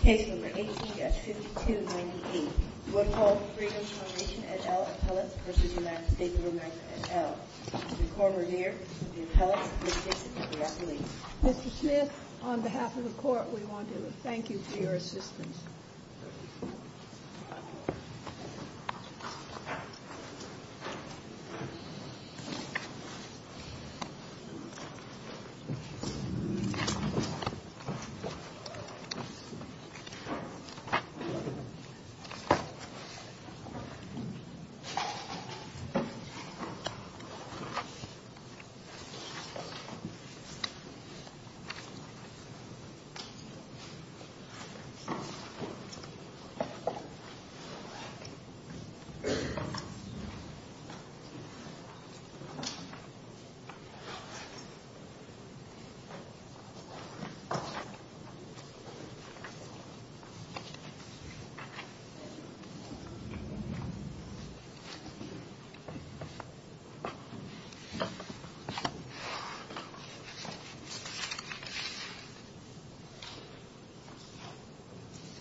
Case No. 18 at 6298 Woodhull Freedom Foundation et al. appellate v. United States of America et al. Mr. Cormier, the appellate, will present the application. Mr. Smith, on behalf of the Court, we want to thank you for your assistance. Thank you, Mr. Cormier.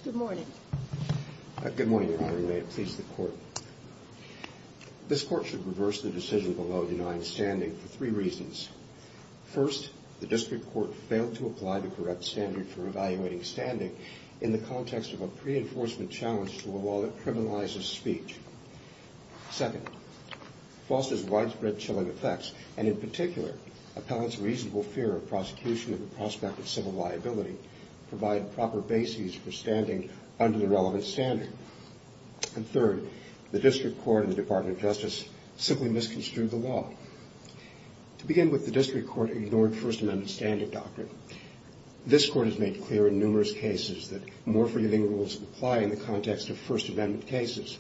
Good morning. Good morning, Your Honor. May it please the Court. This Court should reverse the decision below denying standing for three reasons. First, the District Court failed to apply the correct standard for evaluating standing in the context of a pre-enforcement challenge to a law that criminalizes speech. Second, FOSTA's widespread chilling effects, and in particular, appellants' reasonable fear of prosecution of the prospect of civil liability, provide proper bases for standing under the relevant standard. And third, the District Court and the Department of Justice simply misconstrued the law. To begin with, the District Court ignored First Amendment standing doctrine. This Court has made clear in numerous cases that more forgiving rules apply in the context of First Amendment cases.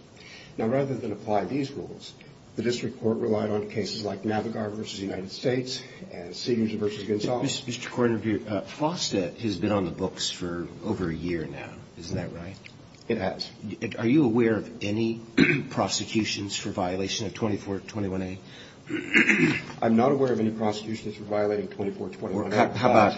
Now, rather than apply these rules, the District Court relied on cases like Navigar v. United States and Siegers v. Gonzales. Mr. Cormier, FOSTA has been on the books for over a year now. Isn't that right? It has. Are you aware of any prosecutions for violation of 2421A? I'm not aware of any prosecutions for violating 2421A. How about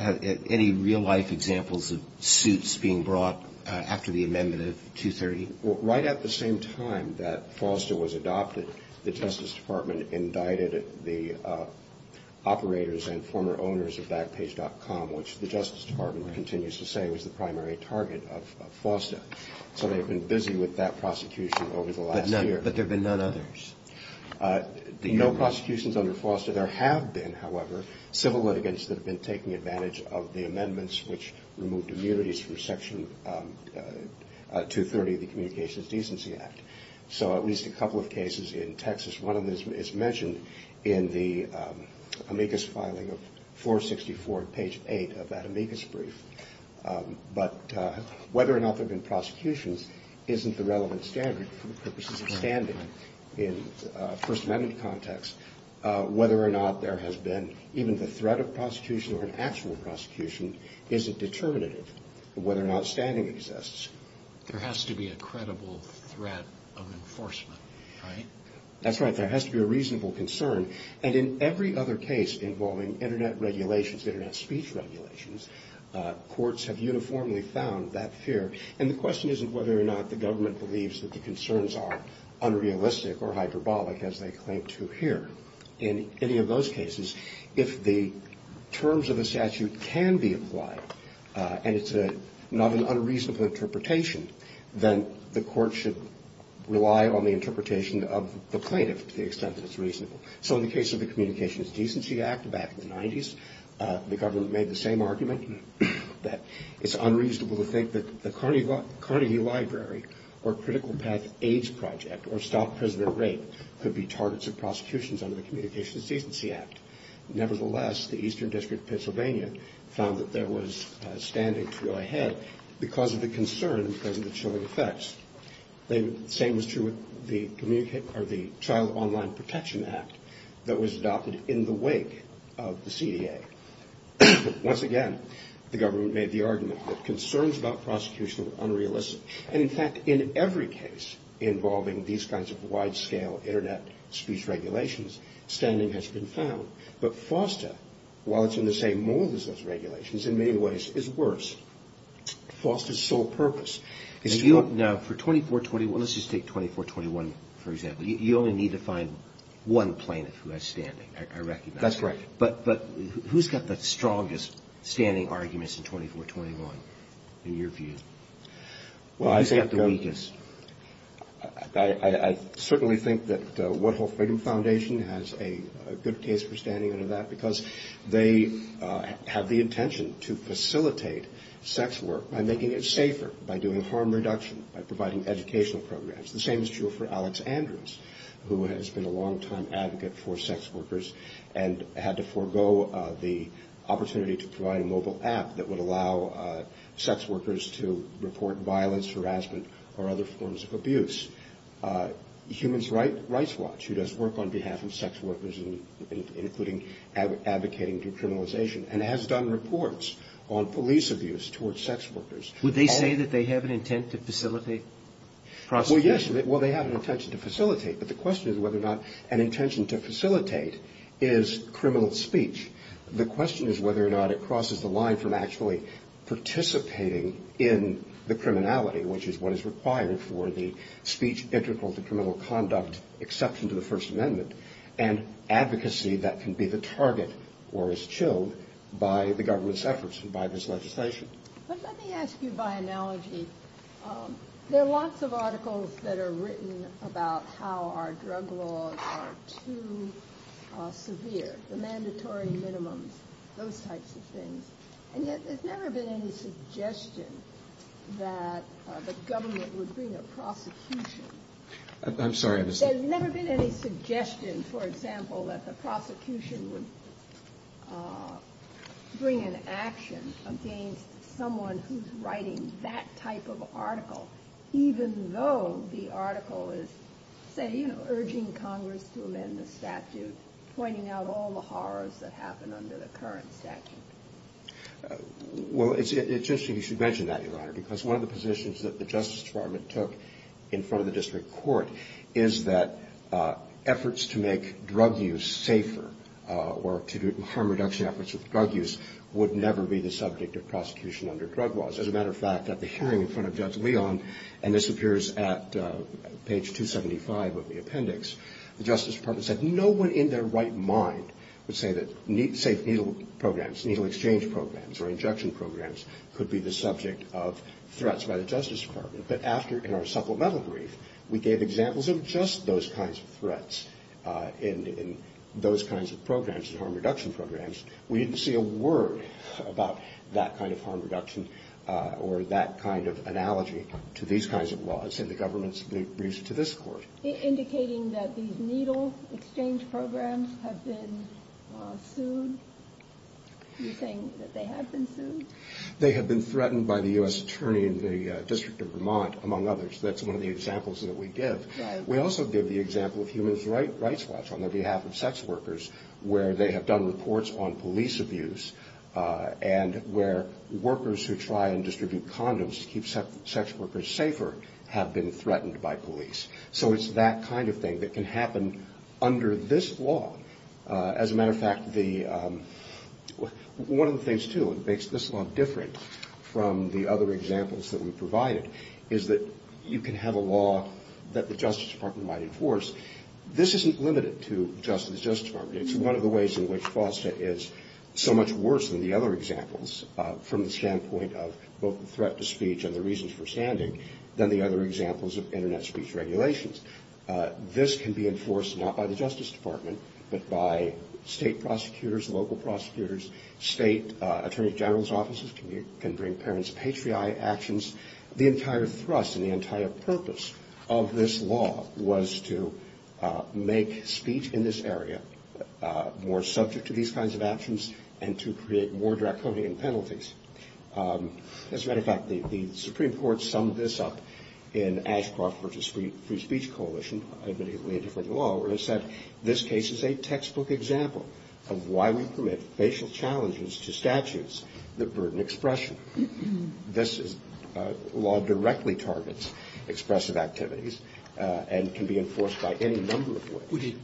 any real-life examples of suits being brought after the amendment of 230? Well, right at the same time that FOSTA was adopted, the Justice Department indicted the operators and former owners of Backpage.com, which the Justice Department continues to say was the primary target of FOSTA. So they've been busy with that prosecution over the last year. But there have been none others? No prosecutions under FOSTA. There have been, however, civil litigants that have been taking advantage of the amendments which removed immunities from Section 230 of the Communications Decency Act. So at least a couple of cases in Texas. One of them is mentioned in the amicus filing of 464, page 8 of that amicus brief. But whether or not there have been prosecutions isn't the relevant standard for the purposes of standing in a First Amendment context. Whether or not there has been even the threat of prosecution or an actual prosecution isn't determinative of whether or not standing exists. There has to be a credible threat of enforcement, right? That's right. There has to be a reasonable concern. And in every other case involving Internet regulations, Internet speech regulations, courts have uniformly found that fear. And the question isn't whether or not the government believes that the concerns are unrealistic or hyperbolic, as they claim to here. In any of those cases, if the terms of the statute can be applied and it's not an unreasonable interpretation, then the court should rely on the interpretation of the plaintiff to the extent that it's reasonable. So in the case of the Communications Decency Act back in the 90s, the government made the same argument that it's unreasonable to think that the Carnegie Library or Critical Path AIDS Project or Stop Prisoner Rape could be targets of prosecutions under the Communications Decency Act. Nevertheless, the Eastern District of Pennsylvania found that there was standing to go ahead because of the concern, because of the chilling effects. The same was true with the Child Online Protection Act that was adopted in the wake of the CDA. Once again, the government made the argument that concerns about prosecution were unrealistic. And in fact, in every case involving these kinds of wide-scale Internet speech regulations, standing has been found. But FOSTA, while it's in the same mold as those regulations, in many ways is worse. FOSTA's sole purpose is to... Now, for 2421, let's just take 2421 for example. You only need to find one plaintiff who has standing, I recognize. That's correct. But who's got the strongest standing arguments in 2421 in your view? Well, I think... Who's got the weakest? I certainly think that What Whole Freedom Foundation has a good case for standing under that because they have the intention to facilitate sex work by making it safer, by doing harm reduction, by providing educational programs. The same is true for Alex Andrews, who has been a long-time advocate for sex workers and had to forego the opportunity to provide a mobile app that would allow sex workers to report violence, harassment, or other forms of abuse. Human Rights Watch, who does work on behalf of sex workers, including advocating decriminalization, and has done reports on police abuse towards sex workers. Would they say that they have an intent to facilitate prosecution? Well, yes. Well, they have an intention to facilitate. But the question is whether or not an intention to facilitate is criminal speech. The question is whether or not it crosses the line from actually participating in the criminality, which is what is required for the speech integral to criminal conduct exception to the First Amendment, and advocacy that can be the target or is chilled by the government's efforts and by this legislation. But let me ask you by analogy, there are lots of articles that are written about how our drug laws are too severe, the mandatory minimums, those types of things, and yet there's never been any suggestion that the government would bring a prosecution. I'm sorry. There's never been any suggestion, for example, that the prosecution would bring an action against someone who's writing that type of article, even though the article is saying, you know, urging Congress to amend the statute, pointing out all the horrors that happen under the current statute. Well, it's interesting you should mention that, Your Honor, because one of the positions that the Justice Department took in front of the district court is that efforts to make drug use safer or to do harm reduction efforts with drug use would never be the subject of prosecution under drug laws. As a matter of fact, at the hearing in front of Judge Leon, and this appears at page 275 of the appendix, the Justice Department said no one in their right mind would say that safe needle programs, needle exchange programs or injection programs could be the subject of threats by the Justice Department. But after, in our supplemental brief, we gave examples of just those kinds of threats and those kinds of programs and harm reduction programs, we didn't see a word about that kind of harm reduction or that kind of analogy to these kinds of laws in the government's briefs to this court. Indicating that these needle exchange programs have been sued? Are you saying that they have been sued? They have been threatened by the U.S. Attorney in the District of Vermont, among others. That's one of the examples that we give. We also give the example of Human Rights Watch on their behalf of sex workers where they have done reports on police abuse and where workers who try and distribute condoms to keep sex workers safer have been threatened by police. So it's that kind of thing that can happen under this law. As a matter of fact, one of the things, too, that makes this law different from the other examples that we provided is that you can have a law that the Justice Department might enforce. This isn't limited to just the Justice Department. It's one of the ways in which FOSTA is so much worse than the other examples from the standpoint of both the threat to speech and the reasons for standing than the other examples of Internet speech regulations. This can be enforced not by the Justice Department, but by state prosecutors, local prosecutors. State Attorney General's offices can bring parents patriotic actions. The entire thrust and the entire purpose of this law was to make speech in this area more subject to these kinds of actions and to create more draconian penalties. As a matter of fact, the Supreme Court summed this up in Ashcroft v. Free Speech Coalition, admittedly a different law, where it said this case is a textbook example of why we permit facial challenges to statutes that burden expression. This law directly targets expressive activities and can be enforced by any number of ways.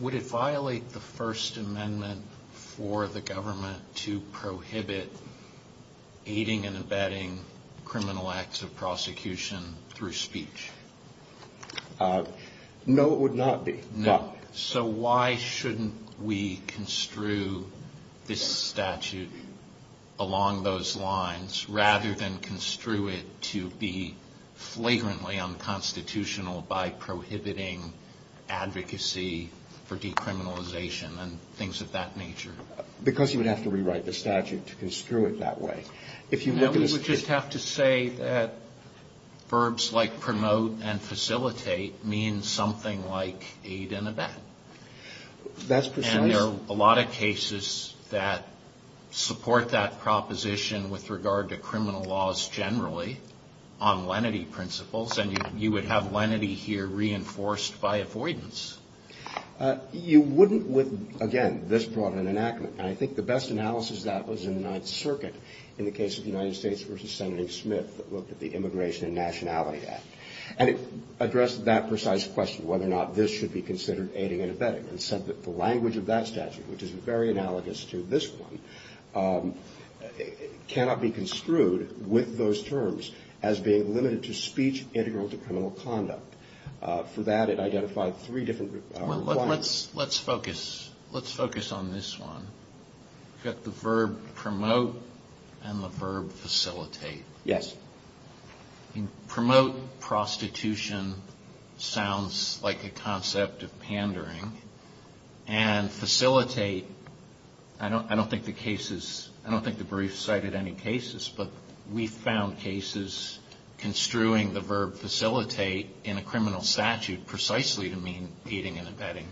Would it violate the First Amendment for the government to prohibit aiding and abetting criminal acts of prosecution through speech? No, it would not be. So why shouldn't we construe this statute along those lines rather than construe it to be flagrantly unconstitutional by prohibiting advocacy for decriminalization and things of that nature? Because you would have to rewrite the statute to construe it that way. No, we would just have to say that verbs like promote and facilitate mean something like aid and abet. And there are a lot of cases that support that proposition with regard to criminal laws generally on lenity principles. And you would have lenity here reinforced by avoidance. You wouldn't with, again, this brought an enactment. And I think the best analysis of that was in the Ninth Circuit in the case of the United States v. Senator Smith that looked at the Immigration and Nationality Act. And it addressed that precise question whether or not this should be considered aiding and abetting and said that the language of that statute, which is very analogous to this one, cannot be construed with those terms as being limited to speech integral to criminal conduct. For that, it identified three different requirements. Let's focus on this one. You've got the verb promote and the verb facilitate. Yes. Promote prostitution sounds like a concept of pandering. And facilitate, I don't think the brief cited any cases, but we found cases construing the verb facilitate in a criminal statute precisely to mean aiding and abetting.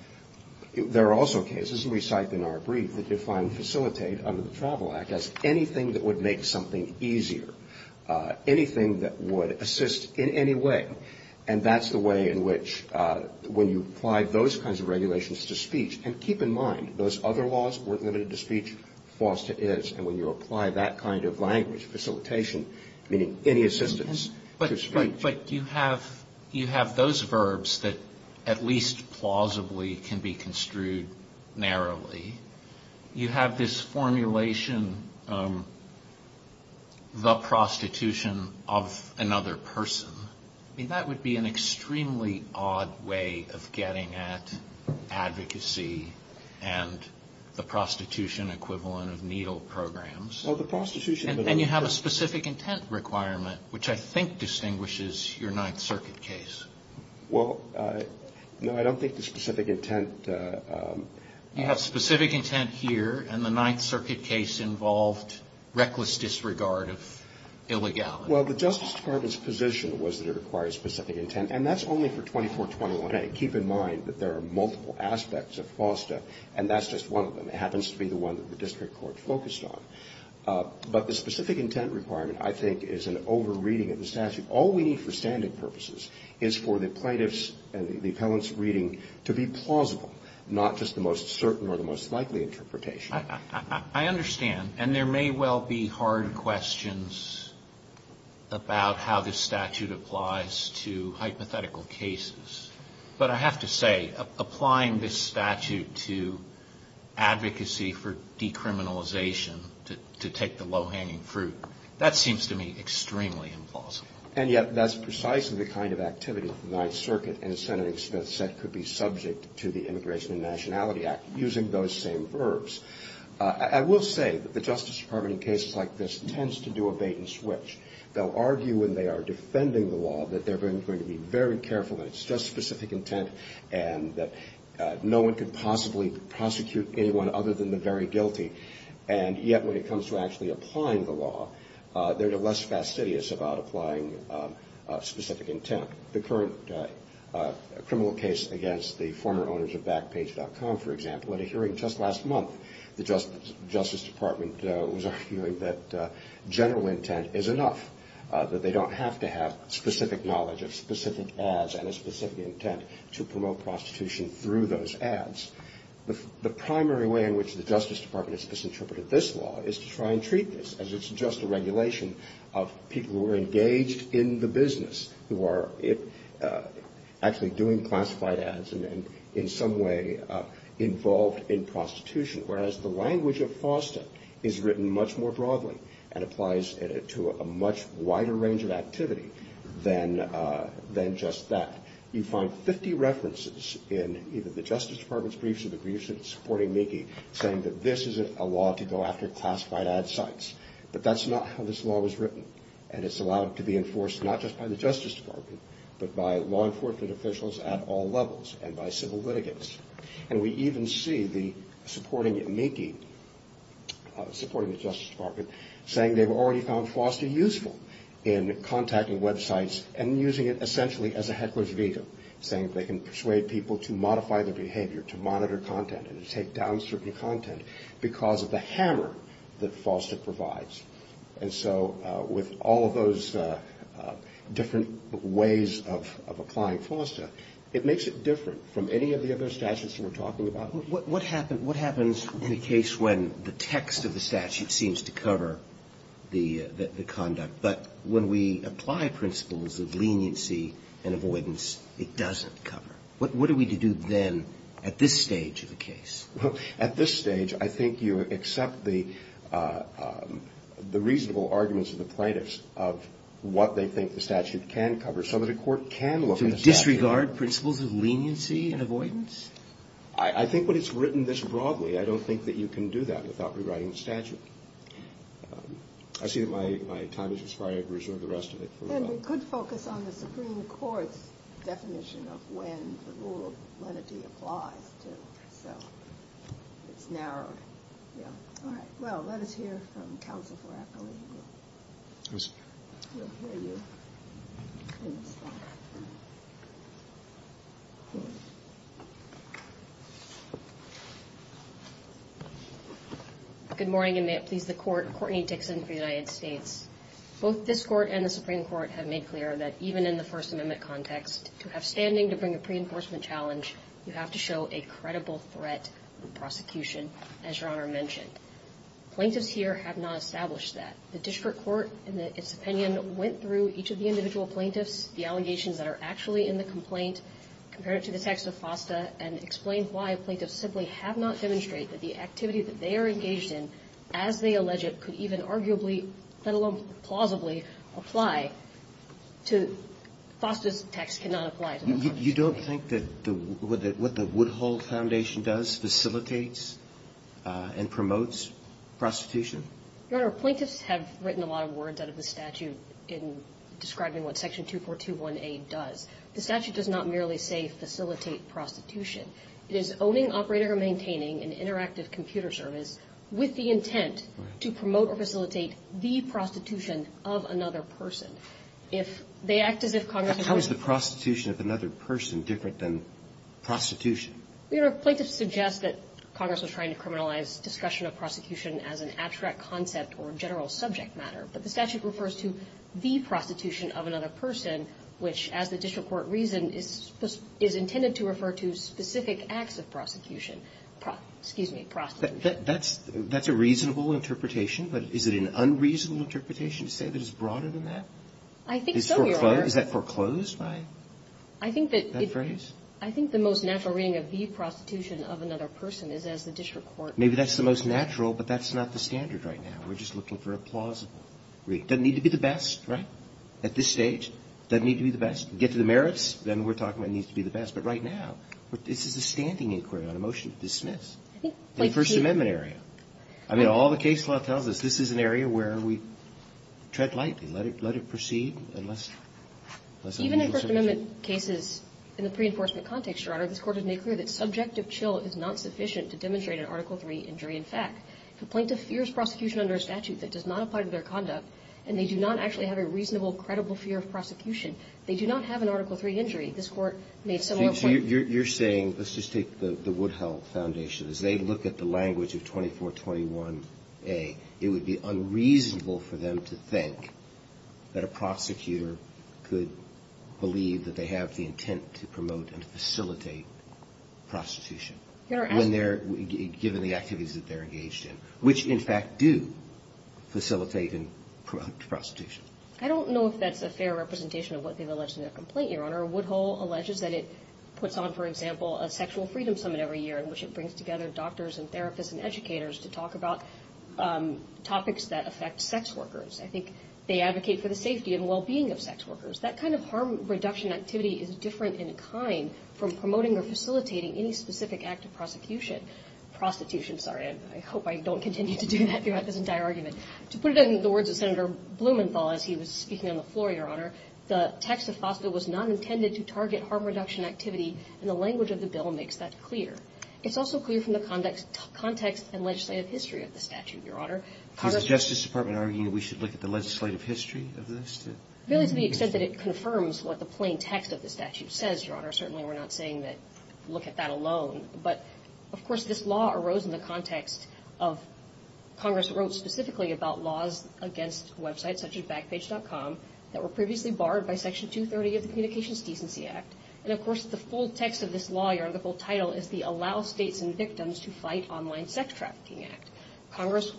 There are also cases we cite in our brief that define facilitate under the Travel Act as anything that would make something easier. Anything that would assist in any way. And that's the way in which when you apply those kinds of regulations to speech, and keep in mind those other laws weren't limited to speech, FOSTA is. And when you apply that kind of language, facilitation, meaning any assistance to speech. But you have those verbs that at least plausibly can be construed narrowly. You have this formulation, the prostitution of another person. I mean, that would be an extremely odd way of getting at advocacy and the prostitution equivalent of needle programs. Well, the prostitution. And you have a specific intent requirement, which I think distinguishes your Ninth Circuit case. Well, no, I don't think the specific intent. You have specific intent here. And the Ninth Circuit case involved reckless disregard of illegality. Well, the Justice Department's position was that it required specific intent. And that's only for 24-21. Keep in mind that there are multiple aspects of FOSTA. And that's just one of them. It happens to be the one that the district court focused on. But the specific intent requirement, I think, is an over-reading of the statute. All we need for standing purposes is for the plaintiff's and the appellant's reading to be plausible, not just the most certain or the most likely interpretation. I understand. And there may well be hard questions about how this statute applies to hypothetical cases. But I have to say, applying this statute to advocacy for decriminalization, to take the low-hanging fruit, that seems to me extremely implausible. And yet that's precisely the kind of activity that the Ninth Circuit and Senator Smith said could be subject to the Immigration and Nationality Act, using those same verbs. I will say that the Justice Department in cases like this tends to do a bait-and-switch. They'll argue when they are defending the law that they're going to be very careful and it's just specific intent and that no one could possibly prosecute anyone other than the very guilty. And yet when it comes to actually applying the law, they're less fastidious about applying specific intent. The current criminal case against the former owners of Backpage.com, for example, at a hearing just last month, the Justice Department was arguing that general intent is enough, that they don't have to have specific knowledge of specific ads and a specific intent to promote prostitution through those ads. The primary way in which the Justice Department has misinterpreted this law is to try and treat this as it's just a regulation of people who are engaged in the business, who are actually doing classified ads and in some way involved in prostitution, whereas the language of FOSTA is written much more broadly and applies to a much wider range of activity than just that. You find 50 references in either the Justice Department's briefs or the briefs supporting Meeke saying that this is a law to go after classified ad sites, but that's not how this law was written and it's allowed to be enforced not just by the Justice Department, but by law enforcement officials at all levels and by civil litigants. And we even see the supporting Meeke, supporting the Justice Department, saying they've already found FOSTA useful in contacting websites and using it essentially as a heckler's vehicle, saying they can persuade people to modify their behavior, to monitor content and to take down certain content because of the hammer that FOSTA provides. And so with all of those different ways of applying FOSTA, it makes it different from any of the other statutes that we're talking about. Roberts. What happens in a case when the text of the statute seems to cover the conduct, but when we apply principles of leniency and avoidance, it doesn't cover? What are we to do then at this stage of the case? Well, at this stage, I think you accept the reasonable arguments of the plaintiffs of what they think the statute can cover so that a court can look at the statute. To disregard principles of leniency and avoidance? I think when it's written this broadly, I don't think that you can do that without rewriting the statute. I see that my time has expired. I reserve the rest of it. And we could focus on the Supreme Court's definition of when the rule of lenity applies. Good morning, and may it please the Court. Courtney Dixon for the United States. Both this Court and the Supreme Court have made clear that even in the First Amendment context, to have standing to bring a pre-enforcement challenge, you have to show a credible threat to prosecution, as Your Honor mentioned. Plaintiffs here have not established that. The district court, in its opinion, went through each of the individual plaintiffs, the allegations that are actually in the complaint, compared it to the text of FOSTA, and explained why plaintiffs simply have not demonstrated that the activity that they are engaged in, as they allege it, could even arguably, let alone plausibly, apply to FOSTA's text cannot apply to the complaint. You don't think that what the Woodhull Foundation does facilitates and promotes prostitution? Your Honor, plaintiffs have written a lot of words out of the statute in describing what Section 2421A does. The statute does not merely say facilitate prostitution. It is owning, operating, or maintaining an interactive computer service with the intent to promote or facilitate the prostitution of another person. If they act as if Congress was going to do that. But how is the prostitution of another person different than prostitution? Your Honor, plaintiffs suggest that Congress was trying to criminalize discussion of prosecution as an abstract concept or general subject matter. But the statute refers to the prostitution of another person, which, as the district court reasoned, is intended to refer to specific acts of prosecution. Excuse me, prostitution. That's a reasonable interpretation, but is it an unreasonable interpretation to say that it's broader than that? I think so, Your Honor. Is that foreclosed by that phrase? I think the most natural reading of the prostitution of another person is as the district court Maybe that's the most natural, but that's not the standard right now. We're just looking for a plausible read. It doesn't need to be the best, right, at this stage. It doesn't need to be the best. Get to the merits, then we're talking about it needs to be the best. But right now, this is a standing inquiry on a motion to dismiss. The First Amendment area. I mean, all the case law tells us this is an area where we tread lightly. Let it proceed unless Even in First Amendment cases, in the pre-enforcement context, Your Honor, this Court has made clear that subjective chill is not sufficient to demonstrate an Article III injury in fact. Complaint of fierce prosecution under a statute that does not apply to their conduct and they do not actually have a reasonable, credible fear of prosecution. They do not have an Article III injury. This Court made similar points. So you're saying, let's just take the Woodhull Foundation. As they look at the language of 2421A, it would be unreasonable for them to think that a prosecutor could believe that they have the intent to promote and facilitate prostitution. Your Honor, as given the activities that they're engaged in, which in fact do facilitate and promote prostitution. I don't know if that's a fair representation of what they've alleged in their complaint, Your Honor. Woodhull alleges that it puts on, for example, a sexual freedom summit every year in which it brings together doctors and therapists and educators to talk about topics that affect sex workers. I think they advocate for the safety and well-being of sex workers. That kind of harm reduction activity is different in a kind from promoting or facilitating any specific act of prosecution. Prostitution, sorry. I hope I don't continue to do that throughout this entire argument. To put it in the words of Senator Blumenthal as he was speaking on the floor, Your Honor, the text of FOSTA was not intended to target harm reduction activity, and the language of the bill makes that clear. It's also clear from the context and legislative history of the statute, Your Honor. Is the Justice Department arguing that we should look at the legislative history of this? Really to the extent that it confirms what the plain text of the statute says, Your But, of course, this law arose in the context of Congress wrote specifically about laws against websites such as Backpage.com that were previously barred by Section 230 of the Communications Decency Act. And, of course, the full text of this law, Your Honor, the full title is the Allow States and Victims to Fight Online Sex Trafficking Act. Congress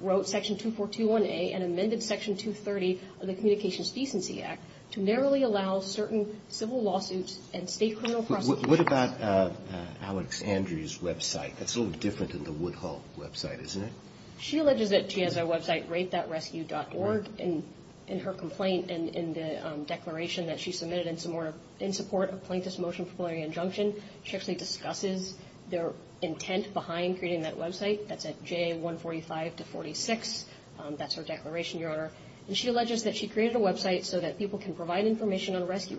wrote Section 2421A and amended Section 230 of the Communications Decency Act to narrowly allow certain civil lawsuits and state criminal prosecutions. What about Alex Andrews' website? That's a little different than the Woodhull website, isn't it? She alleges that she has a website, RapeThatRescue.org. In her complaint and in the declaration that she submitted in support of Plaintiff's Motion for Plenary Injunction, she actually discusses their intent behind creating that website. That's at JA145-46. That's her declaration, Your Honor. And she alleges that she created a website so that people can provide information on which of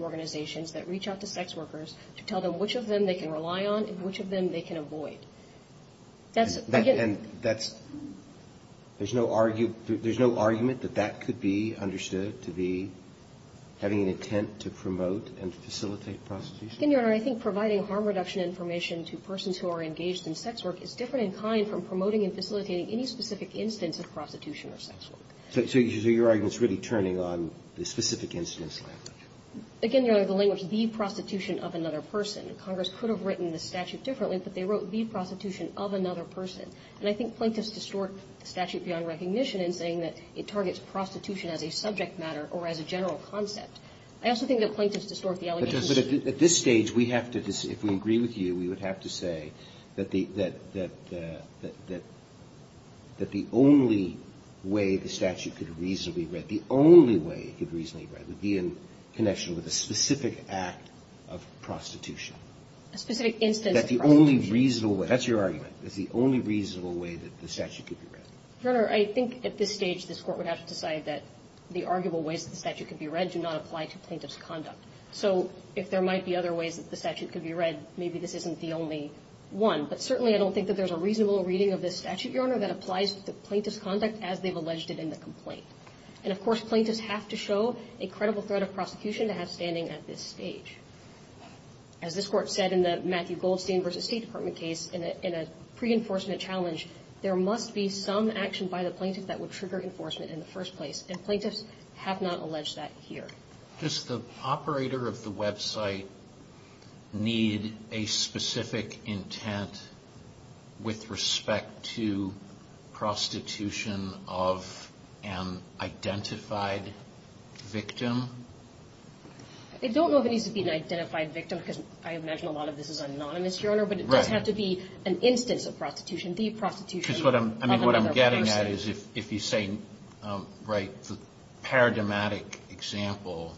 them they can rely on and which of them they can avoid. That's, again – And that's – there's no argument that that could be understood to be having an intent to promote and facilitate prostitution? Again, Your Honor, I think providing harm reduction information to persons who are engaged in sex work is different in kind from promoting and facilitating any specific instance of prostitution or sex work. So your argument is really turning on the specific instance language? Again, Your Honor, the language, the prostitution of another person. Congress could have written the statute differently, but they wrote the prostitution of another person. And I think Plaintiff's distorts the statute beyond recognition in saying that it targets prostitution as a subject matter or as a general concept. I also think that Plaintiff's distorts the allegation – But at this stage, we have to – if we agree with you, we would have to say that the only way the statute could reasonably – the only way it could reasonably be read would be in connection with a specific act of prostitution. A specific instance – That the only reasonable way – that's your argument. It's the only reasonable way that the statute could be read. Your Honor, I think at this stage, this Court would have to decide that the arguable ways that the statute could be read do not apply to Plaintiff's conduct. So if there might be other ways that the statute could be read, maybe this isn't the only one. But certainly, I don't think that there's a reasonable reading of this statute, Your Honor, that applies to Plaintiff's conduct as they've alleged it in the complaint. And of course, Plaintiffs have to show a credible threat of prosecution to have standing at this stage. As this Court said in the Matthew Goldstein v. State Department case, in a pre-enforcement challenge, there must be some action by the Plaintiff that would trigger enforcement in the first place. And Plaintiffs have not alleged that here. Does the operator of the website need a specific intent with respect to prostitution of an identified victim? I don't know if it needs to be an identified victim, because I imagine a lot of this is anonymous, Your Honor. Right. But it does have to be an instance of prostitution, the prostitution of another person. What I'm getting at is if you say, right, the paradigmatic example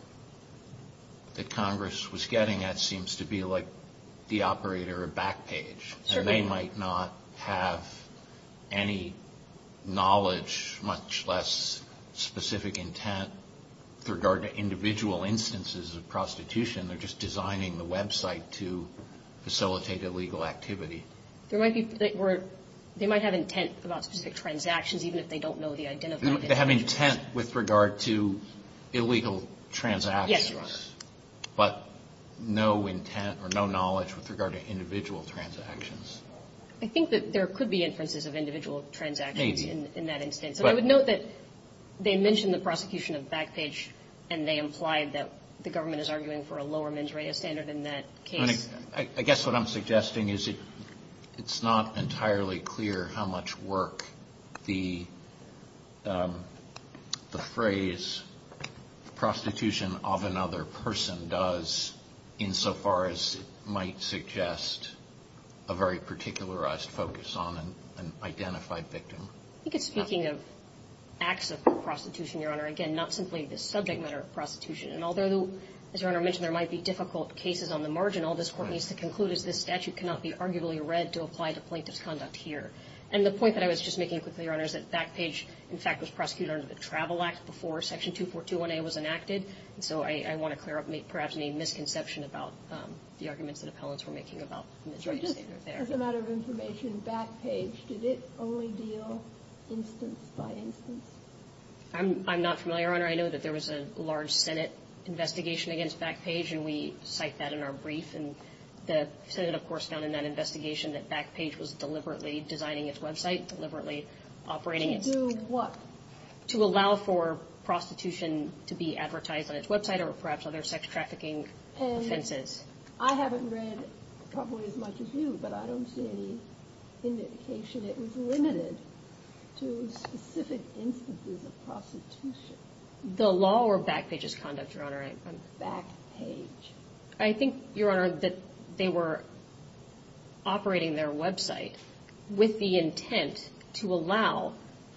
that Congress was getting at seems to be like the operator of Backpage. Certainly. And they might not have any knowledge, much less specific intent, with regard to individual instances of prostitution. They're just designing the website to facilitate illegal activity. They might have intent about specific transactions, even if they don't know the identified victim. They have intent with regard to illegal transactions. Yes, Your Honor. But no intent or no knowledge with regard to individual transactions. I think that there could be inferences of individual transactions in that instance. Maybe. But I would note that they mentioned the prosecution of Backpage, and they implied that the government is arguing for a lower mens rea standard in that case. I guess what I'm suggesting is it's not entirely clear how much work the phrase prostitution of another person does insofar as it might suggest a very particularized focus on an identified victim. I think it's speaking of acts of prostitution, Your Honor. Again, not simply the subject matter of prostitution. And although, as Your Honor mentioned, there might be difficult cases on the margin, all this Court needs to conclude is this statute cannot be arguably read to apply to plaintiff's conduct here. And the point that I was just making quickly, Your Honor, is that Backpage, in fact, was prosecuted under the Travel Act before Section 2421A was enacted. And so I want to clear up perhaps any misconception about the arguments that appellants were making about mens rea standard there. As a matter of information, Backpage, did it only deal instance by instance? I'm not familiar, Your Honor. I know that there was a large Senate investigation against Backpage, and we cite that in our brief. And the Senate, of course, found in that investigation that Backpage was deliberately designing its website, deliberately operating it. To do what? To allow for prostitution to be advertised on its website or perhaps other sex trafficking offenses. And I haven't read probably as much as you, but I don't see any indication it was limited to specific instances of prostitution. The law or Backpage's conduct, Your Honor? Backpage. I think, Your Honor, that they were operating their website with the intent to allow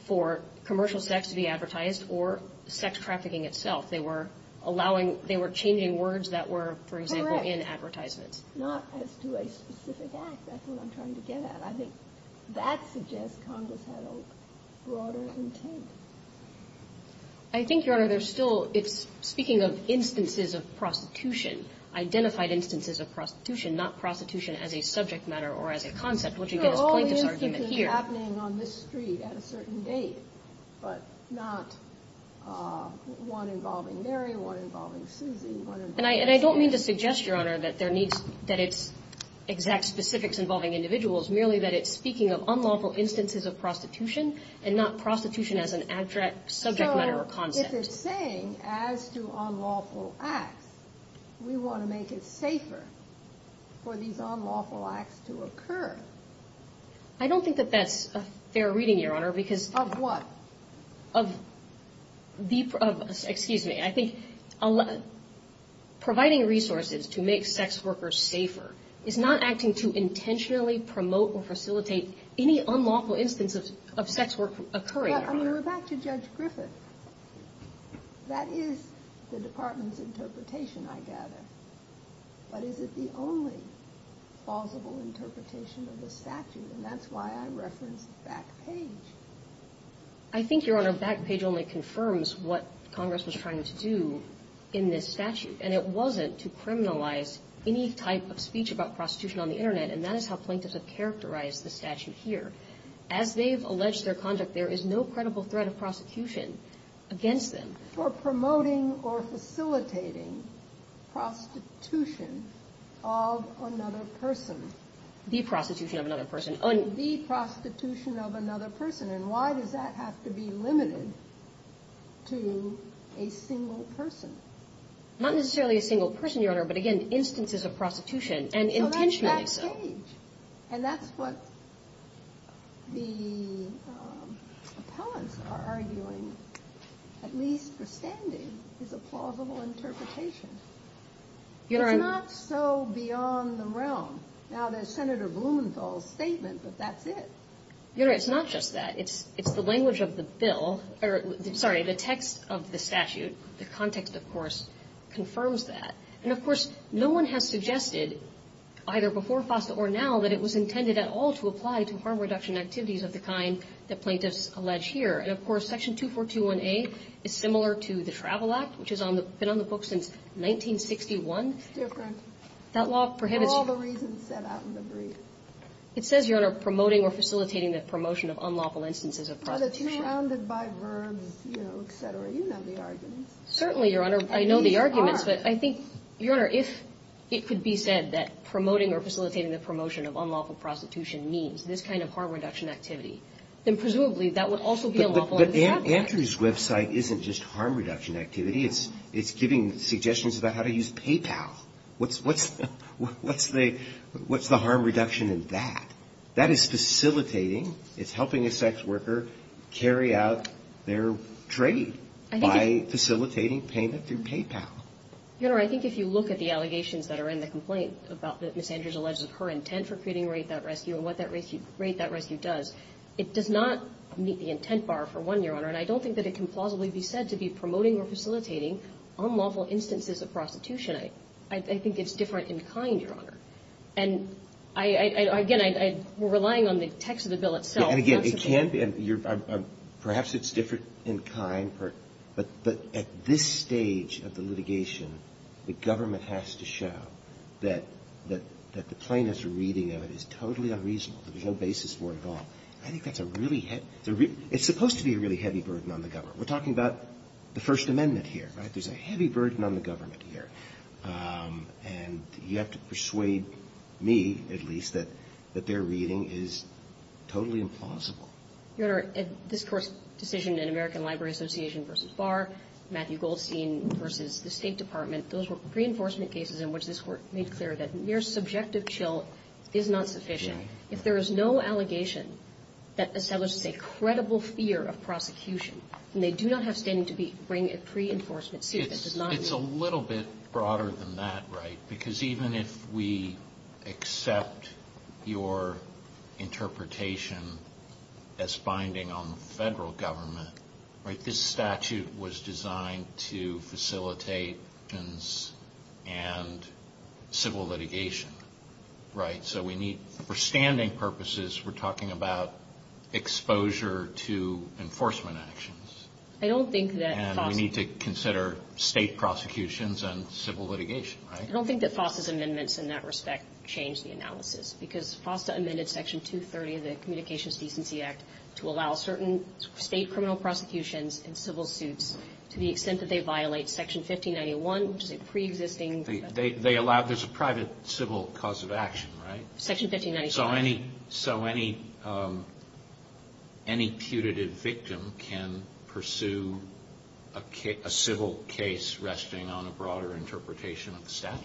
for commercial sex to be advertised or sex trafficking itself. They were allowing – they were changing words that were, for example, in advertisements. Correct. Not as to a specific act. That's what I'm trying to get at. I think that suggests Congress had a broader intent. I think, Your Honor, there's still – it's speaking of instances of prostitution, identified instances of prostitution, not prostitution as a subject matter or as a concept, which again is plaintiff's argument here. There are all these things happening on this street at a certain date, but not one involving Mary, one involving Suzy, one involving – And I don't mean to suggest, Your Honor, that there needs – that its exact specifics involving individuals, merely that it's speaking of unlawful instances of prostitution and not prostitution as an abstract subject matter or concept. So, if it's saying, as to unlawful acts, we want to make it safer for these unlawful acts to occur. I don't think that that's a fair reading, Your Honor, because – Of what? Of the – excuse me. I think providing resources to make sex workers safer is not acting to intentionally promote or facilitate any unlawful instances of sex work occurring, Your Honor. But, I mean, we're back to Judge Griffith. That is the Department's interpretation, I gather. But is it the only plausible interpretation of the statute? And that's why I referenced Backpage. I think, Your Honor, Backpage only confirms what Congress was trying to do in this statute, and it wasn't to criminalize any type of speech about prostitution on the Internet, and that is how plaintiffs have characterized the statute here. As they've alleged their conduct, there is no credible threat of prosecution against them. For promoting or facilitating prostitution of another person. The prostitution of another person. The prostitution of another person. And why does that have to be limited to a single person? Not necessarily a single person, Your Honor, but, again, instances of prostitution and intentionality. So that's Backpage. And that's what the appellants are arguing, at least for standing, is a plausible interpretation. It's not so beyond the realm. Now, there's Senator Blumenthal's statement, but that's it. Your Honor, it's not just that. It's the language of the bill. Sorry, the text of the statute, the context, of course, confirms that. And, of course, no one has suggested, either before FOSTA or now, that it was intended at all to apply to harm reduction activities of the kind that plaintiffs allege here. And, of course, Section 2421A is similar to the Travel Act, which has been on the book since 1961. It's different. That law prohibits you. All the reasons set out in the brief. It says, Your Honor, promoting or facilitating the promotion of unlawful instances of prostitution. But it's surrounded by verbs, you know, et cetera. You know the arguments. Certainly, Your Honor, I know the arguments. But I think, Your Honor, if it could be said that promoting or facilitating the promotion of unlawful prostitution means this kind of harm reduction activity, then presumably that would also be unlawful under the Travel Act. But Andrew's website isn't just harm reduction activity. It's giving suggestions about how to use PayPal. What's the harm reduction in that? That is facilitating, it's helping a sex worker carry out their trade by facilitating payment through PayPal. Your Honor, I think if you look at the allegations that are in the complaint about that Ms. Andrews alleges of her intent for creating Rape Without Rescue and what that Rape Without Rescue does, it does not meet the intent bar, for one, Your Honor. And I don't think that it can plausibly be said to be promoting or facilitating unlawful instances of prostitution. I think it's different in kind, Your Honor. And I, again, I'm relying on the text of the bill itself. And, again, it can be. Perhaps it's different in kind. But at this stage of the litigation, the government has to show that the plaintiff's reading of it is totally unreasonable. There's no basis for it at all. I think that's a really heavy – it's supposed to be a really heavy burden on the government. We're talking about the First Amendment here, right? There's a heavy burden on the government here. And you have to persuade me, at least, that their reading is totally implausible. Your Honor, this Court's decision in American Library Association v. Barr, Matthew Goldstein v. the State Department, those were pre-enforcement cases in which this Court made clear that mere subjective chill is not sufficient. If there is no allegation that establishes a credible fear of prosecution, then they do not have standing to bring a pre-enforcement suit. It's a little bit broader than that, right? Because even if we accept your interpretation as binding on the federal government, this statute was designed to facilitate actions and civil litigation, right? So for standing purposes, we're talking about exposure to enforcement actions. And we need to consider state prosecutions and civil litigation, right? I don't think that FOSTA's amendments in that respect change the analysis, because FOSTA amended Section 230 of the Communications Decency Act to allow certain state criminal prosecutions and civil suits to the extent that they violate Section 1591, which is a pre-existing. They allow – there's a private civil cause of action, right? Section 1591. So any – so any putative victim can pursue a civil case resting on a broader interpretation of the statute?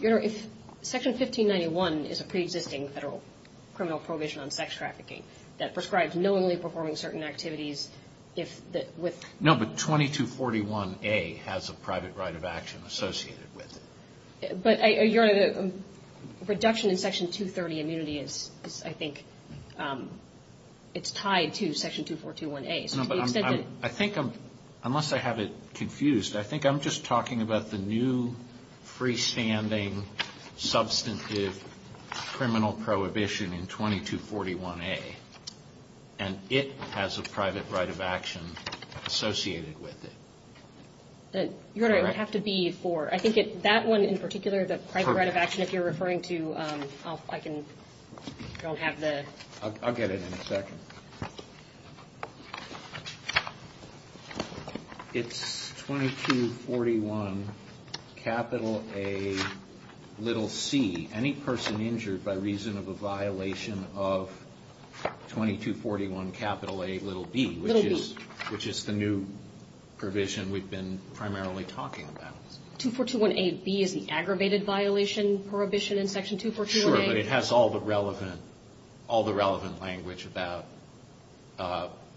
Your Honor, if Section 1591 is a pre-existing federal criminal prohibition on sex trafficking that prescribes knowingly performing certain activities if the – with – No, but 2241A has a private right of action associated with it. But, Your Honor, the reduction in Section 230 immunity is, I think, it's tied to Section 2421A. No, but I'm – I think I'm – unless I have it confused, I think I'm just talking about the new freestanding substantive criminal prohibition in 2241A. And it has a private right of action associated with it. Your Honor, it would have to be for – I think that one in particular, the private right of action, if you're referring to – I can – don't have the – I'll get it in a second. It's 2241 capital A little c. Any person injured by reason of a violation of 2241 capital A little b. Little b. Which is the new provision we've been primarily talking about. 2421A b is the aggravated violation prohibition in Section 2421A. Sure, but it has all the relevant – all the relevant language about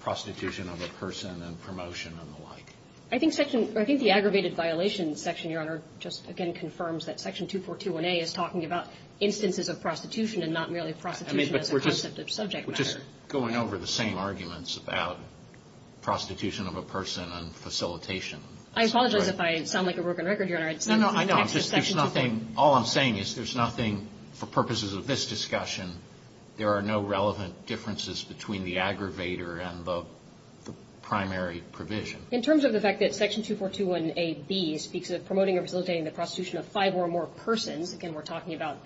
prostitution of a person and promotion and the like. I think Section – I think the aggravated violation section, Your Honor, just again confirms that Section 2421A is talking about instances of prostitution and not merely prostitution as a concept of subject matter. I'm just going over the same arguments about prostitution of a person and facilitation. I apologize if I sound like a broken record, Your Honor. No, no, I know. It's just there's nothing – all I'm saying is there's nothing for purposes of this discussion, there are no relevant differences between the aggravator and the primary provision. In terms of the fact that Section 2421A b speaks of promoting or facilitating the prostitution of five or more persons, again, we're talking about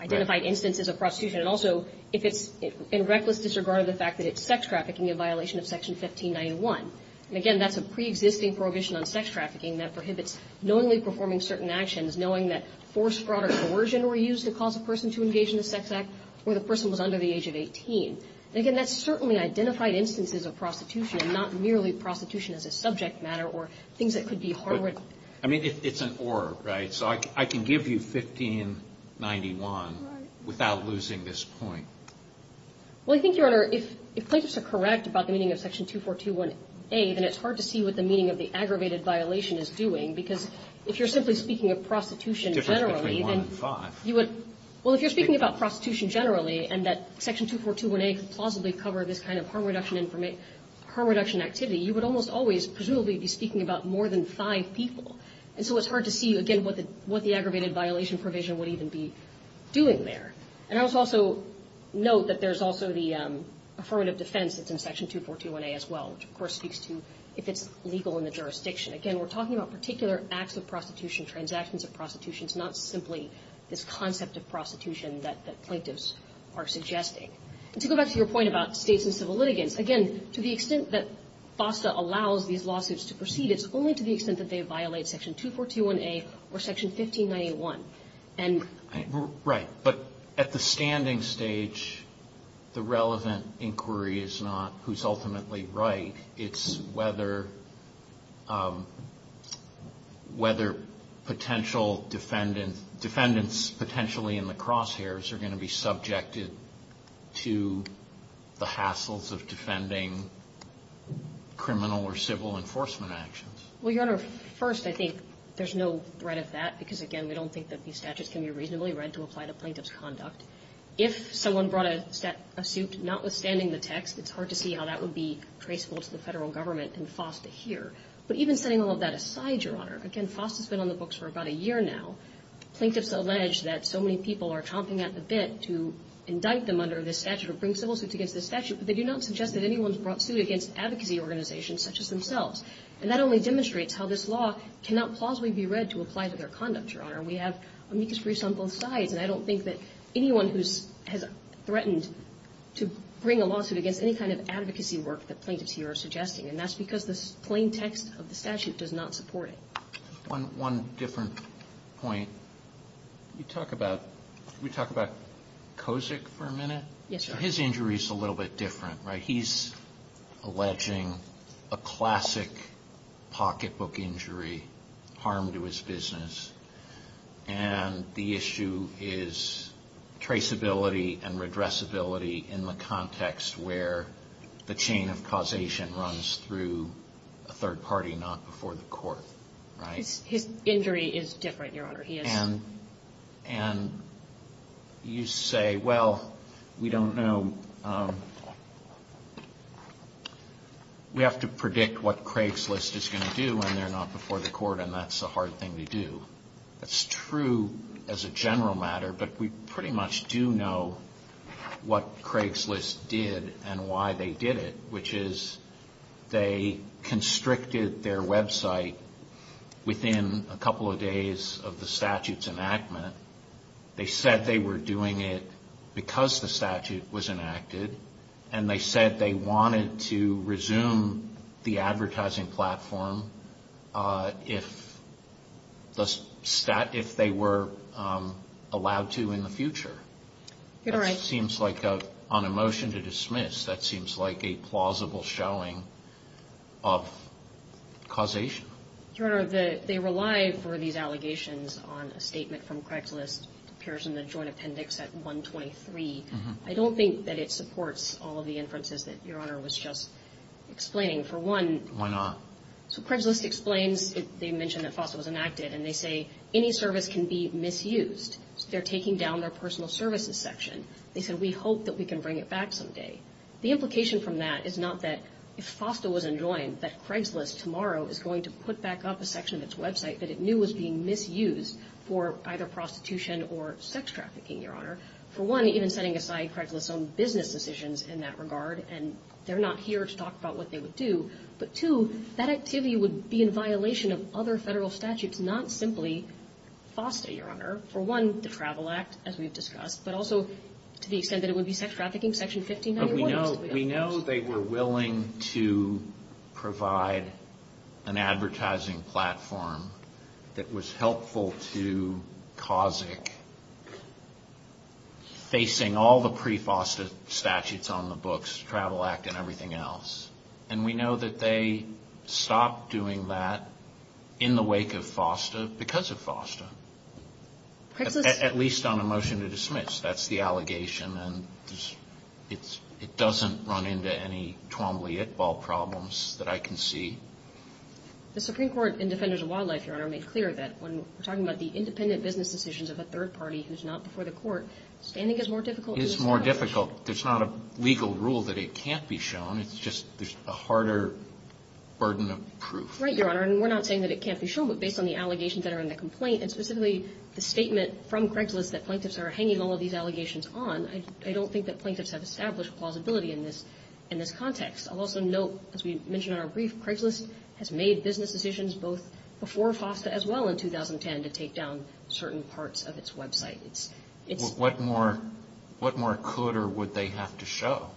identified instances of prostitution. And also, if it's in reckless disregard of the fact that it's sex trafficking in violation of Section 1591. And again, that's a preexisting prohibition on sex trafficking that prohibits knowingly performing certain actions, knowing that force, fraud or coercion were used to cause a person to engage in a sex act or the person was under the age of 18. And again, that's certainly identified instances of prostitution and not merely prostitution as a subject matter or things that could be hard – I mean, it's an or, right? So I can give you 1591 without losing this point. Well, I think, Your Honor, if plaintiffs are correct about the meaning of Section 2421A, then it's hard to see what the meaning of the aggravated violation is doing, because if you're simply speaking of prostitution generally, then you would – well, if you're speaking about prostitution generally and that Section 2421A could plausibly cover this kind of harm reduction activity, you would almost always presumably be speaking about more than five people. And so it's hard to see, again, what the aggravated violation provision would even be doing there. And I would also note that there's also the affirmative defense that's in Section 2421A as well, which of course speaks to if it's legal in the jurisdiction. Again, we're talking about particular acts of prostitution, transactions of prostitution. It's not simply this concept of prostitution that plaintiffs are suggesting. And to go back to your point about States and civil litigants, again, to the extent that FOSTA allows these lawsuits to proceed, it's only to the extent that they violate Section 2421A or Section 15981. And – Right. But at the standing stage, the relevant inquiry is not who's ultimately right. It's whether – whether potential defendants – defendants potentially in the crosshairs are going to be subjected to the hassles of defending criminal or civil enforcement actions. Well, Your Honor, first, I think there's no threat of that because, again, we don't think that these statutes can be reasonably read to apply to plaintiff's conduct. If someone brought a suit notwithstanding the text, it's hard to see how that would be traceable to the Federal Government and FOSTA here. But even setting all of that aside, Your Honor, again, FOSTA's been on the books for about a year now. Plaintiffs allege that so many people are chomping at the bit to indict them under this statute or bring civil suits against this statute, but they do not suggest that anyone's brought suit against advocacy organizations such as themselves. And that only demonstrates how this law cannot plausibly be read to apply to their conduct, Your Honor. We have amicus briefs on both sides, and I don't think that anyone who's – has threatened to bring a lawsuit against any kind of advocacy work that plaintiffs here are suggesting. And that's because the plain text of the statute does not support it. One different point. You talk about – can we talk about Kozik for a minute? Yes, Your Honor. His injury's a little bit different, right? He's alleging a classic pocketbook injury, harm to his business. And the issue is traceability and redressability in the context where the chain of His injury is different, Your Honor. And you say, well, we don't know – we have to predict what Craigslist is going to do when they're not before the court, and that's a hard thing to do. That's true as a general matter, but we pretty much do know what Craigslist did and why they did it, which is they constricted their website within a couple of days of the statute's enactment. They said they were doing it because the statute was enacted, and they said they wanted to resume the advertising platform if they were allowed to in the future. You're right. That seems like, on a motion to dismiss, that seems like a plausible showing of causation. Your Honor, they rely for these allegations on a statement from Craigslist. It appears in the Joint Appendix at 123. I don't think that it supports all of the inferences that Your Honor was just explaining. For one – Why not? So Craigslist explains – they mention that FOSTA was enacted, and they say, any service can be misused. They're taking down their personal services section. They said, we hope that we can bring it back someday. The implication from that is not that if FOSTA was enjoined, that Craigslist tomorrow is going to put back up a section of its website that it knew was being misused for either prostitution or sex trafficking, Your Honor. For one, even setting aside Craigslist's own business decisions in that regard, and they're not here to talk about what they would do. But two, that activity would be in violation of other Federal statutes, not simply FOSTA, Your Honor. For one, the Travel Act, as we've discussed, but also to the extent that it would be sex trafficking, Section 1591. But we know they were willing to provide an advertising platform that was helpful to CAUSIC facing all the pre-FOSTA statutes on the books, Travel Act and everything else. And we know that they stopped doing that in the wake of FOSTA because of FOSTA, at least on a motion to dismiss. That's the allegation. And it doesn't run into any Twombly-It-Ball problems that I can see. The Supreme Court in Defenders of Wildlife, Your Honor, made clear that when we're talking about the independent business decisions of a third party who's not before the court, standing is more difficult. It's more difficult. There's not a legal rule that it can't be shown. It's just there's a harder burden of proof. Right, Your Honor. And we're not saying that it can't be shown. But based on the allegations that are in the complaint, and specifically the statement from Craigslist that plaintiffs are hanging all of these allegations on, I don't think that plaintiffs have established plausibility in this context. I'll also note, as we mentioned in our brief, Craigslist has made business decisions both before FOSTA as well in 2010 to take down certain parts of its website. What more could or would they have to show?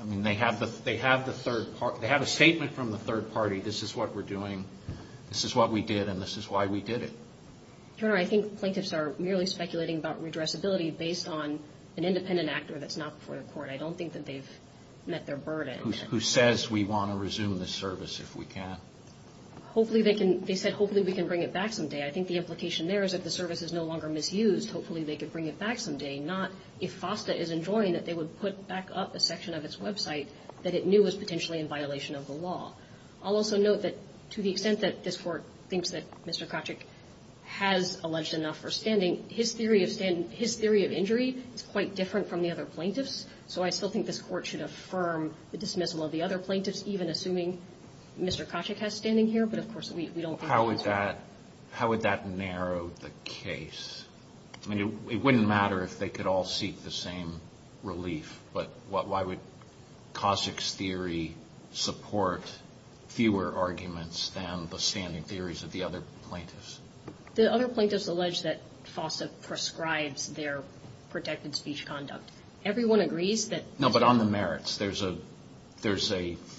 I mean, they have a statement from the third party. This is what we're doing. This is what we did, and this is why we did it. Your Honor, I think plaintiffs are merely speculating about redressability based on an independent actor that's not before the court. I don't think that they've met their burden. Who says we want to resume this service if we can. They said hopefully we can bring it back someday. I think the implication there is if the service is no longer misused, hopefully they could bring it back someday. Not if FOSTA is enjoying that they would put back up a section of its website that it knew was potentially in violation of the law. I'll also note that to the extent that this Court thinks that Mr. Kochek has alleged enough for standing, his theory of injury is quite different from the other plaintiffs. So I still think this Court should affirm the dismissal of the other plaintiffs, even assuming Mr. Kochek has standing here. But, of course, we don't think that's fair. How would that narrow the case? I mean, it wouldn't matter if they could all seek the same relief, but why would Kochek's theory support fewer arguments than the standing theories of the other plaintiffs? The other plaintiffs allege that FOSTA prescribes their protected speech conduct. Everyone agrees that... No, but on the merits, there's a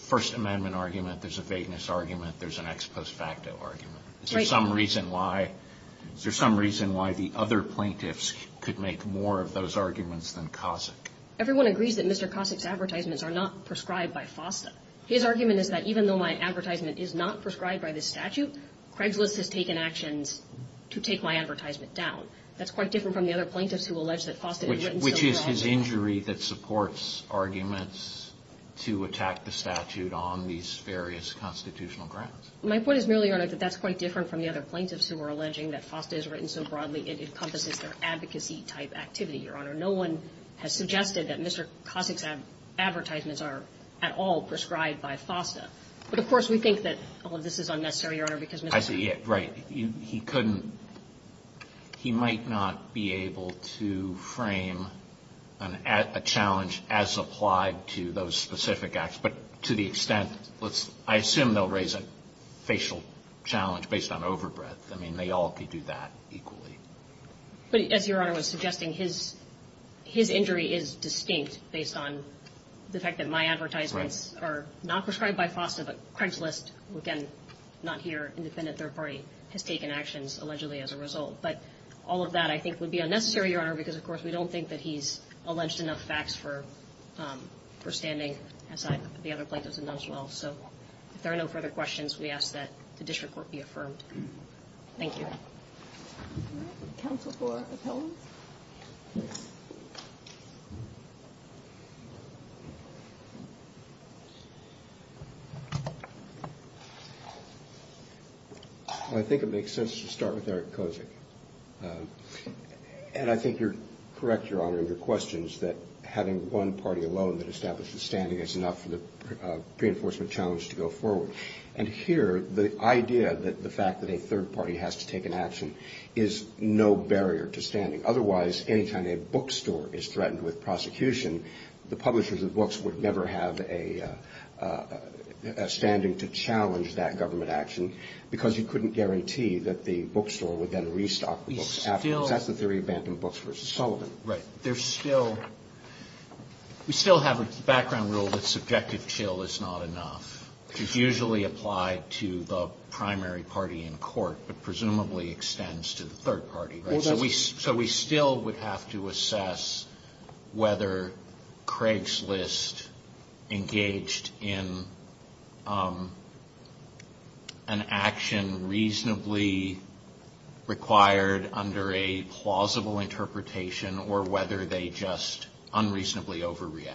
First Amendment argument, there's a vagueness argument, there's an ex post facto argument. Is there some reason why the other plaintiffs could make more of those arguments than Kochek? Everyone agrees that Mr. Kochek's advertisements are not prescribed by FOSTA. His argument is that even though my advertisement is not prescribed by this statute, Craigslist has taken actions to take my advertisement down. That's quite different from the other plaintiffs who allege that FOSTA... Which is his injury that supports arguments to attack the statute on these various constitutional grounds. My point is merely, Your Honor, that that's quite different from the other plaintiffs who are alleging that FOSTA is written so broadly it encompasses their advocacy type activity, Your Honor. No one has suggested that Mr. Kochek's advertisements are at all prescribed by FOSTA. But, of course, we think that all of this is unnecessary, Your Honor, because Mr. Kochek... I see. Right. He couldn't – he might not be able to frame a challenge as applied to those specific acts, but to the extent – I assume they'll raise a facial challenge based on overbreath. I mean, they all could do that equally. But as Your Honor was suggesting, his injury is distinct based on the fact that my advertisements are not prescribed by FOSTA, but Craigslist, who again, not here, independent third party, has taken actions allegedly as a result. But all of that, I think, would be unnecessary, Your Honor, because, of course, we don't think that he's alleged enough facts for standing, as the other plaintiffs have done as well. So if there are no further questions, we ask that the district court be affirmed. Thank you. All right. Counsel for Appellants? Well, I think it makes sense to start with Eric Kochek. And I think you're correct, Your Honor, in your questions that having one party alone that establishes standing is enough for the pre-enforcement challenge to go forward. And here, the idea that the fact that a third party has to take an action is no barrier to standing. Otherwise, any time a bookstore is threatened with prosecution, the publishers of books would never have a standing to challenge that government action, because you couldn't guarantee that the bookstore would then restock the books afterwards. That's the theory of Bantam Books versus Sullivan. Right. There's still we still have a background rule that subjective chill is not enough, which is usually applied to the primary party in court, but presumably extends to the third party. So we still would have to assess whether Craigslist engaged in an action reasonably required under a plausible interpretation or whether they just unreasonably overreact.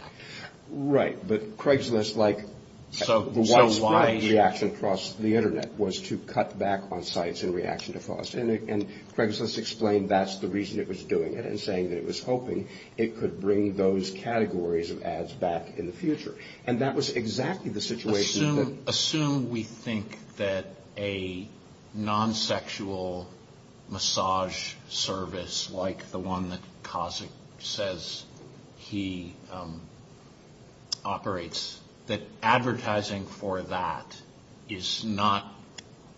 Right. But Craigslist, like the widespread reaction across the Internet, was to cut back on sites in reaction to FOSTA. And Craigslist explained that's the reason it was doing it and saying that it was hoping it could bring those categories of ads back in the future. And that was exactly the situation that... Assume we think that a non-sexual massage service like the one that Kazik says he operates, that advertising for that is not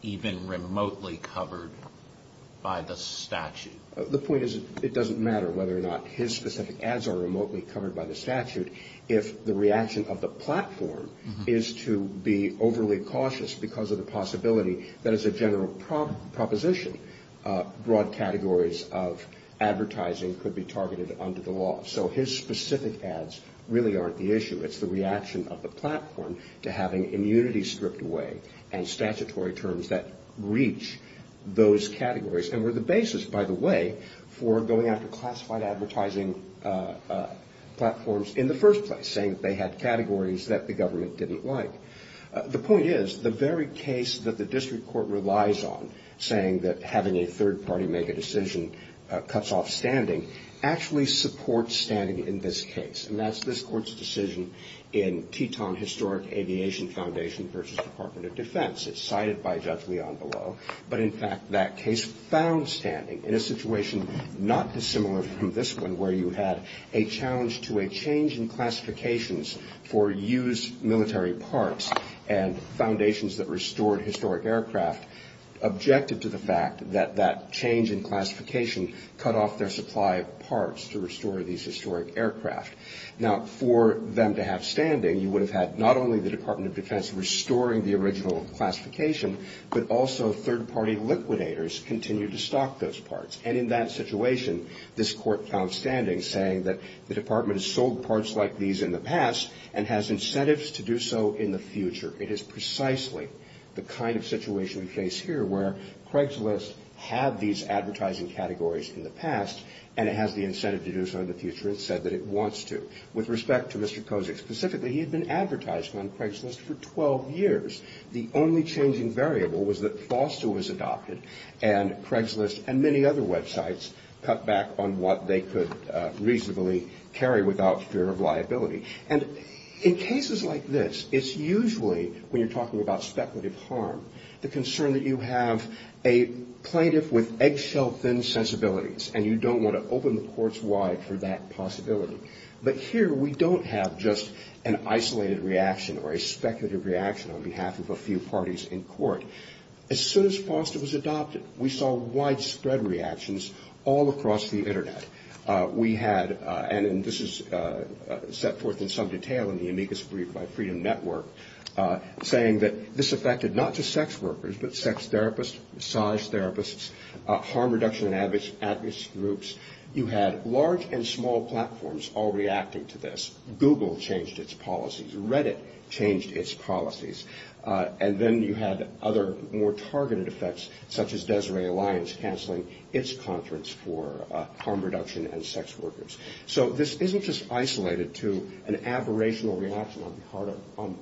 even remotely covered by the statute. The point is it doesn't matter whether or not his specific ads are remotely covered by the statute if the reaction of the platform is to be overly cautious because of the possibility that as a general proposition, broad categories of advertising could be targeted under the law. So his specific ads really aren't the issue. It's the reaction of the platform to having immunity stripped away and statutory terms that reach those categories and were the basis, by the way, for going after classified advertising platforms in the first place, saying that they had categories that the government didn't like. The point is the very case that the district court relies on, saying that having a third party make a decision cuts off standing, actually supports standing in this case. And that's this court's decision in Teton Historic Aviation Foundation v. Department of Defense. It's cited by Judge Leon below. But, in fact, that case found standing in a situation not dissimilar from this one where you had a challenge to a change in classifications for used military parts and foundations that restored historic aircraft, objective to the fact that that change in classification cut off their supply of Now, for them to have standing, you would have had not only the Department of Defense restoring the original classification, but also third party liquidators continue to stock those parts. And in that situation, this court found standing, saying that the department has sold parts like these in the past and has incentives to do so in the future. It is precisely the kind of situation we face here where Craigslist had these advertising categories in the past and it has the incentive to do so in the future and said that it wants to. With respect to Mr. Kozik specifically, he had been advertising on Craigslist for 12 years. The only changing variable was that FOSTA was adopted and Craigslist and many other websites cut back on what they could reasonably carry without fear of liability. And in cases like this, it's usually, when you're talking about speculative harm, the concern that you have a plaintiff with eggshell-thin sensibilities and you don't want to open the courts wide for that possibility. But here we don't have just an isolated reaction or a speculative reaction on behalf of a few parties in court. As soon as FOSTA was adopted, we saw widespread reactions all across the Internet. We had, and this is set forth in some detail in the amicus brief by Freedom Network, saying that this affected not just sex workers but sex therapists, massage therapists, harm reduction and advocacy groups. You had large and small platforms all reacting to this. Google changed its policies. Reddit changed its policies. And then you had other more targeted effects such as Desiree Alliance canceling its conference for harm reduction and sex workers. So this isn't just isolated to an aberrational reaction on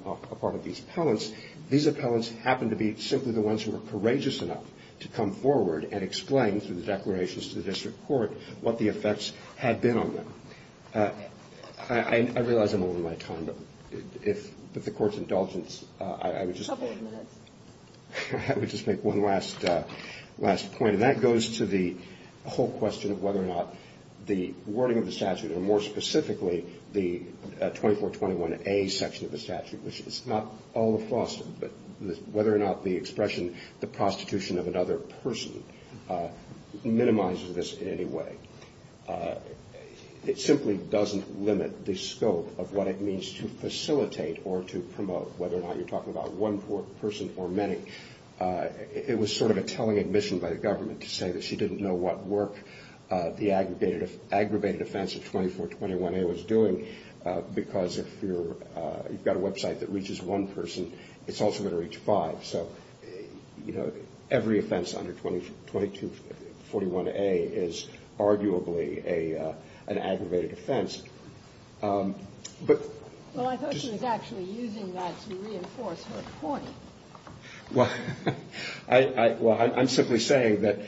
the part of these appellants. These appellants happened to be simply the ones who were courageous enough to come forward and explain, through the declarations to the district court, what the effects had been on them. I realize I'm over my time, but if the Court's indulgence, I would just make one last point. And that goes to the whole question of whether or not the wording of the statute, or more specifically the 2421A section of the statute, which is not all of FOSTA, but whether or not the expression, the prostitution of another person, minimizes this in any way. It simply doesn't limit the scope of what it means to facilitate or to promote, whether or not you're talking about one person or many. It was sort of a telling admission by the government to say that she didn't know what work the aggravated offense of 2421A was doing, because if you've got a website that reaches one person, it's also going to reach five. So, you know, every offense under 2241A is arguably an aggravated offense. But just to the point. Ginsburg. Well, I thought she was actually using that to reinforce her point. Roberts. Well, I'm simply saying that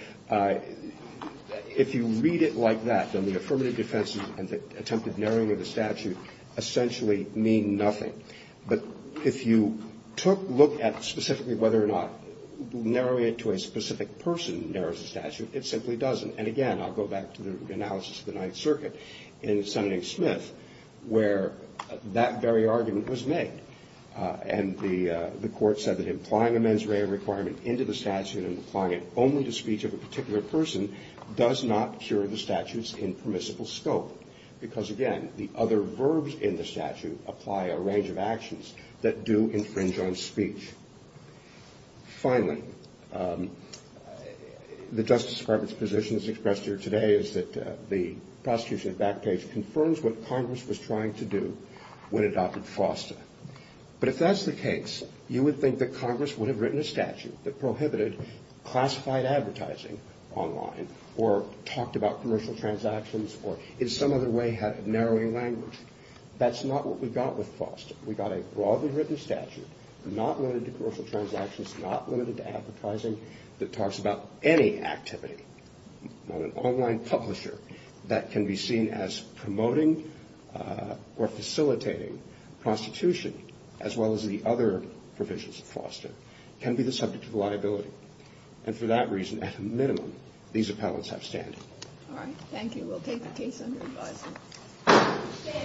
if you read it like that, then the affirmative defense and the attempted narrowing of the statute essentially mean nothing. But if you took look at specifically whether or not narrowing it to a specific person narrows the statute, it simply doesn't. And again, I'll go back to the analysis of the Ninth Circuit in Sen. Smith, where that very argument was made. And the court said that implying a mens rea requirement into the statute and applying it only to speech of a particular person does not cure the statutes in permissible scope. Because, again, the other verbs in the statute apply a range of actions that do infringe on speech. Finally, the Justice Department's position as expressed here today is that the prosecution's back page confirms what Congress was trying to do when it adopted FOSTA. But if that's the case, you would think that Congress would have written a statute that prohibited classified advertising online or talked about commercial transactions or in some other way had narrowing language. That's not what we got with FOSTA. We got a broadly written statute, not limited to commercial transactions, not limited to advertising, that talks about any activity on an online publisher that can be seen as promoting or facilitating prostitution, as well as the other provisions of FOSTA, can be the subject of liability. And for that reason, at a minimum, these appellants have standing. All right. Thank you. We'll take the case under revising.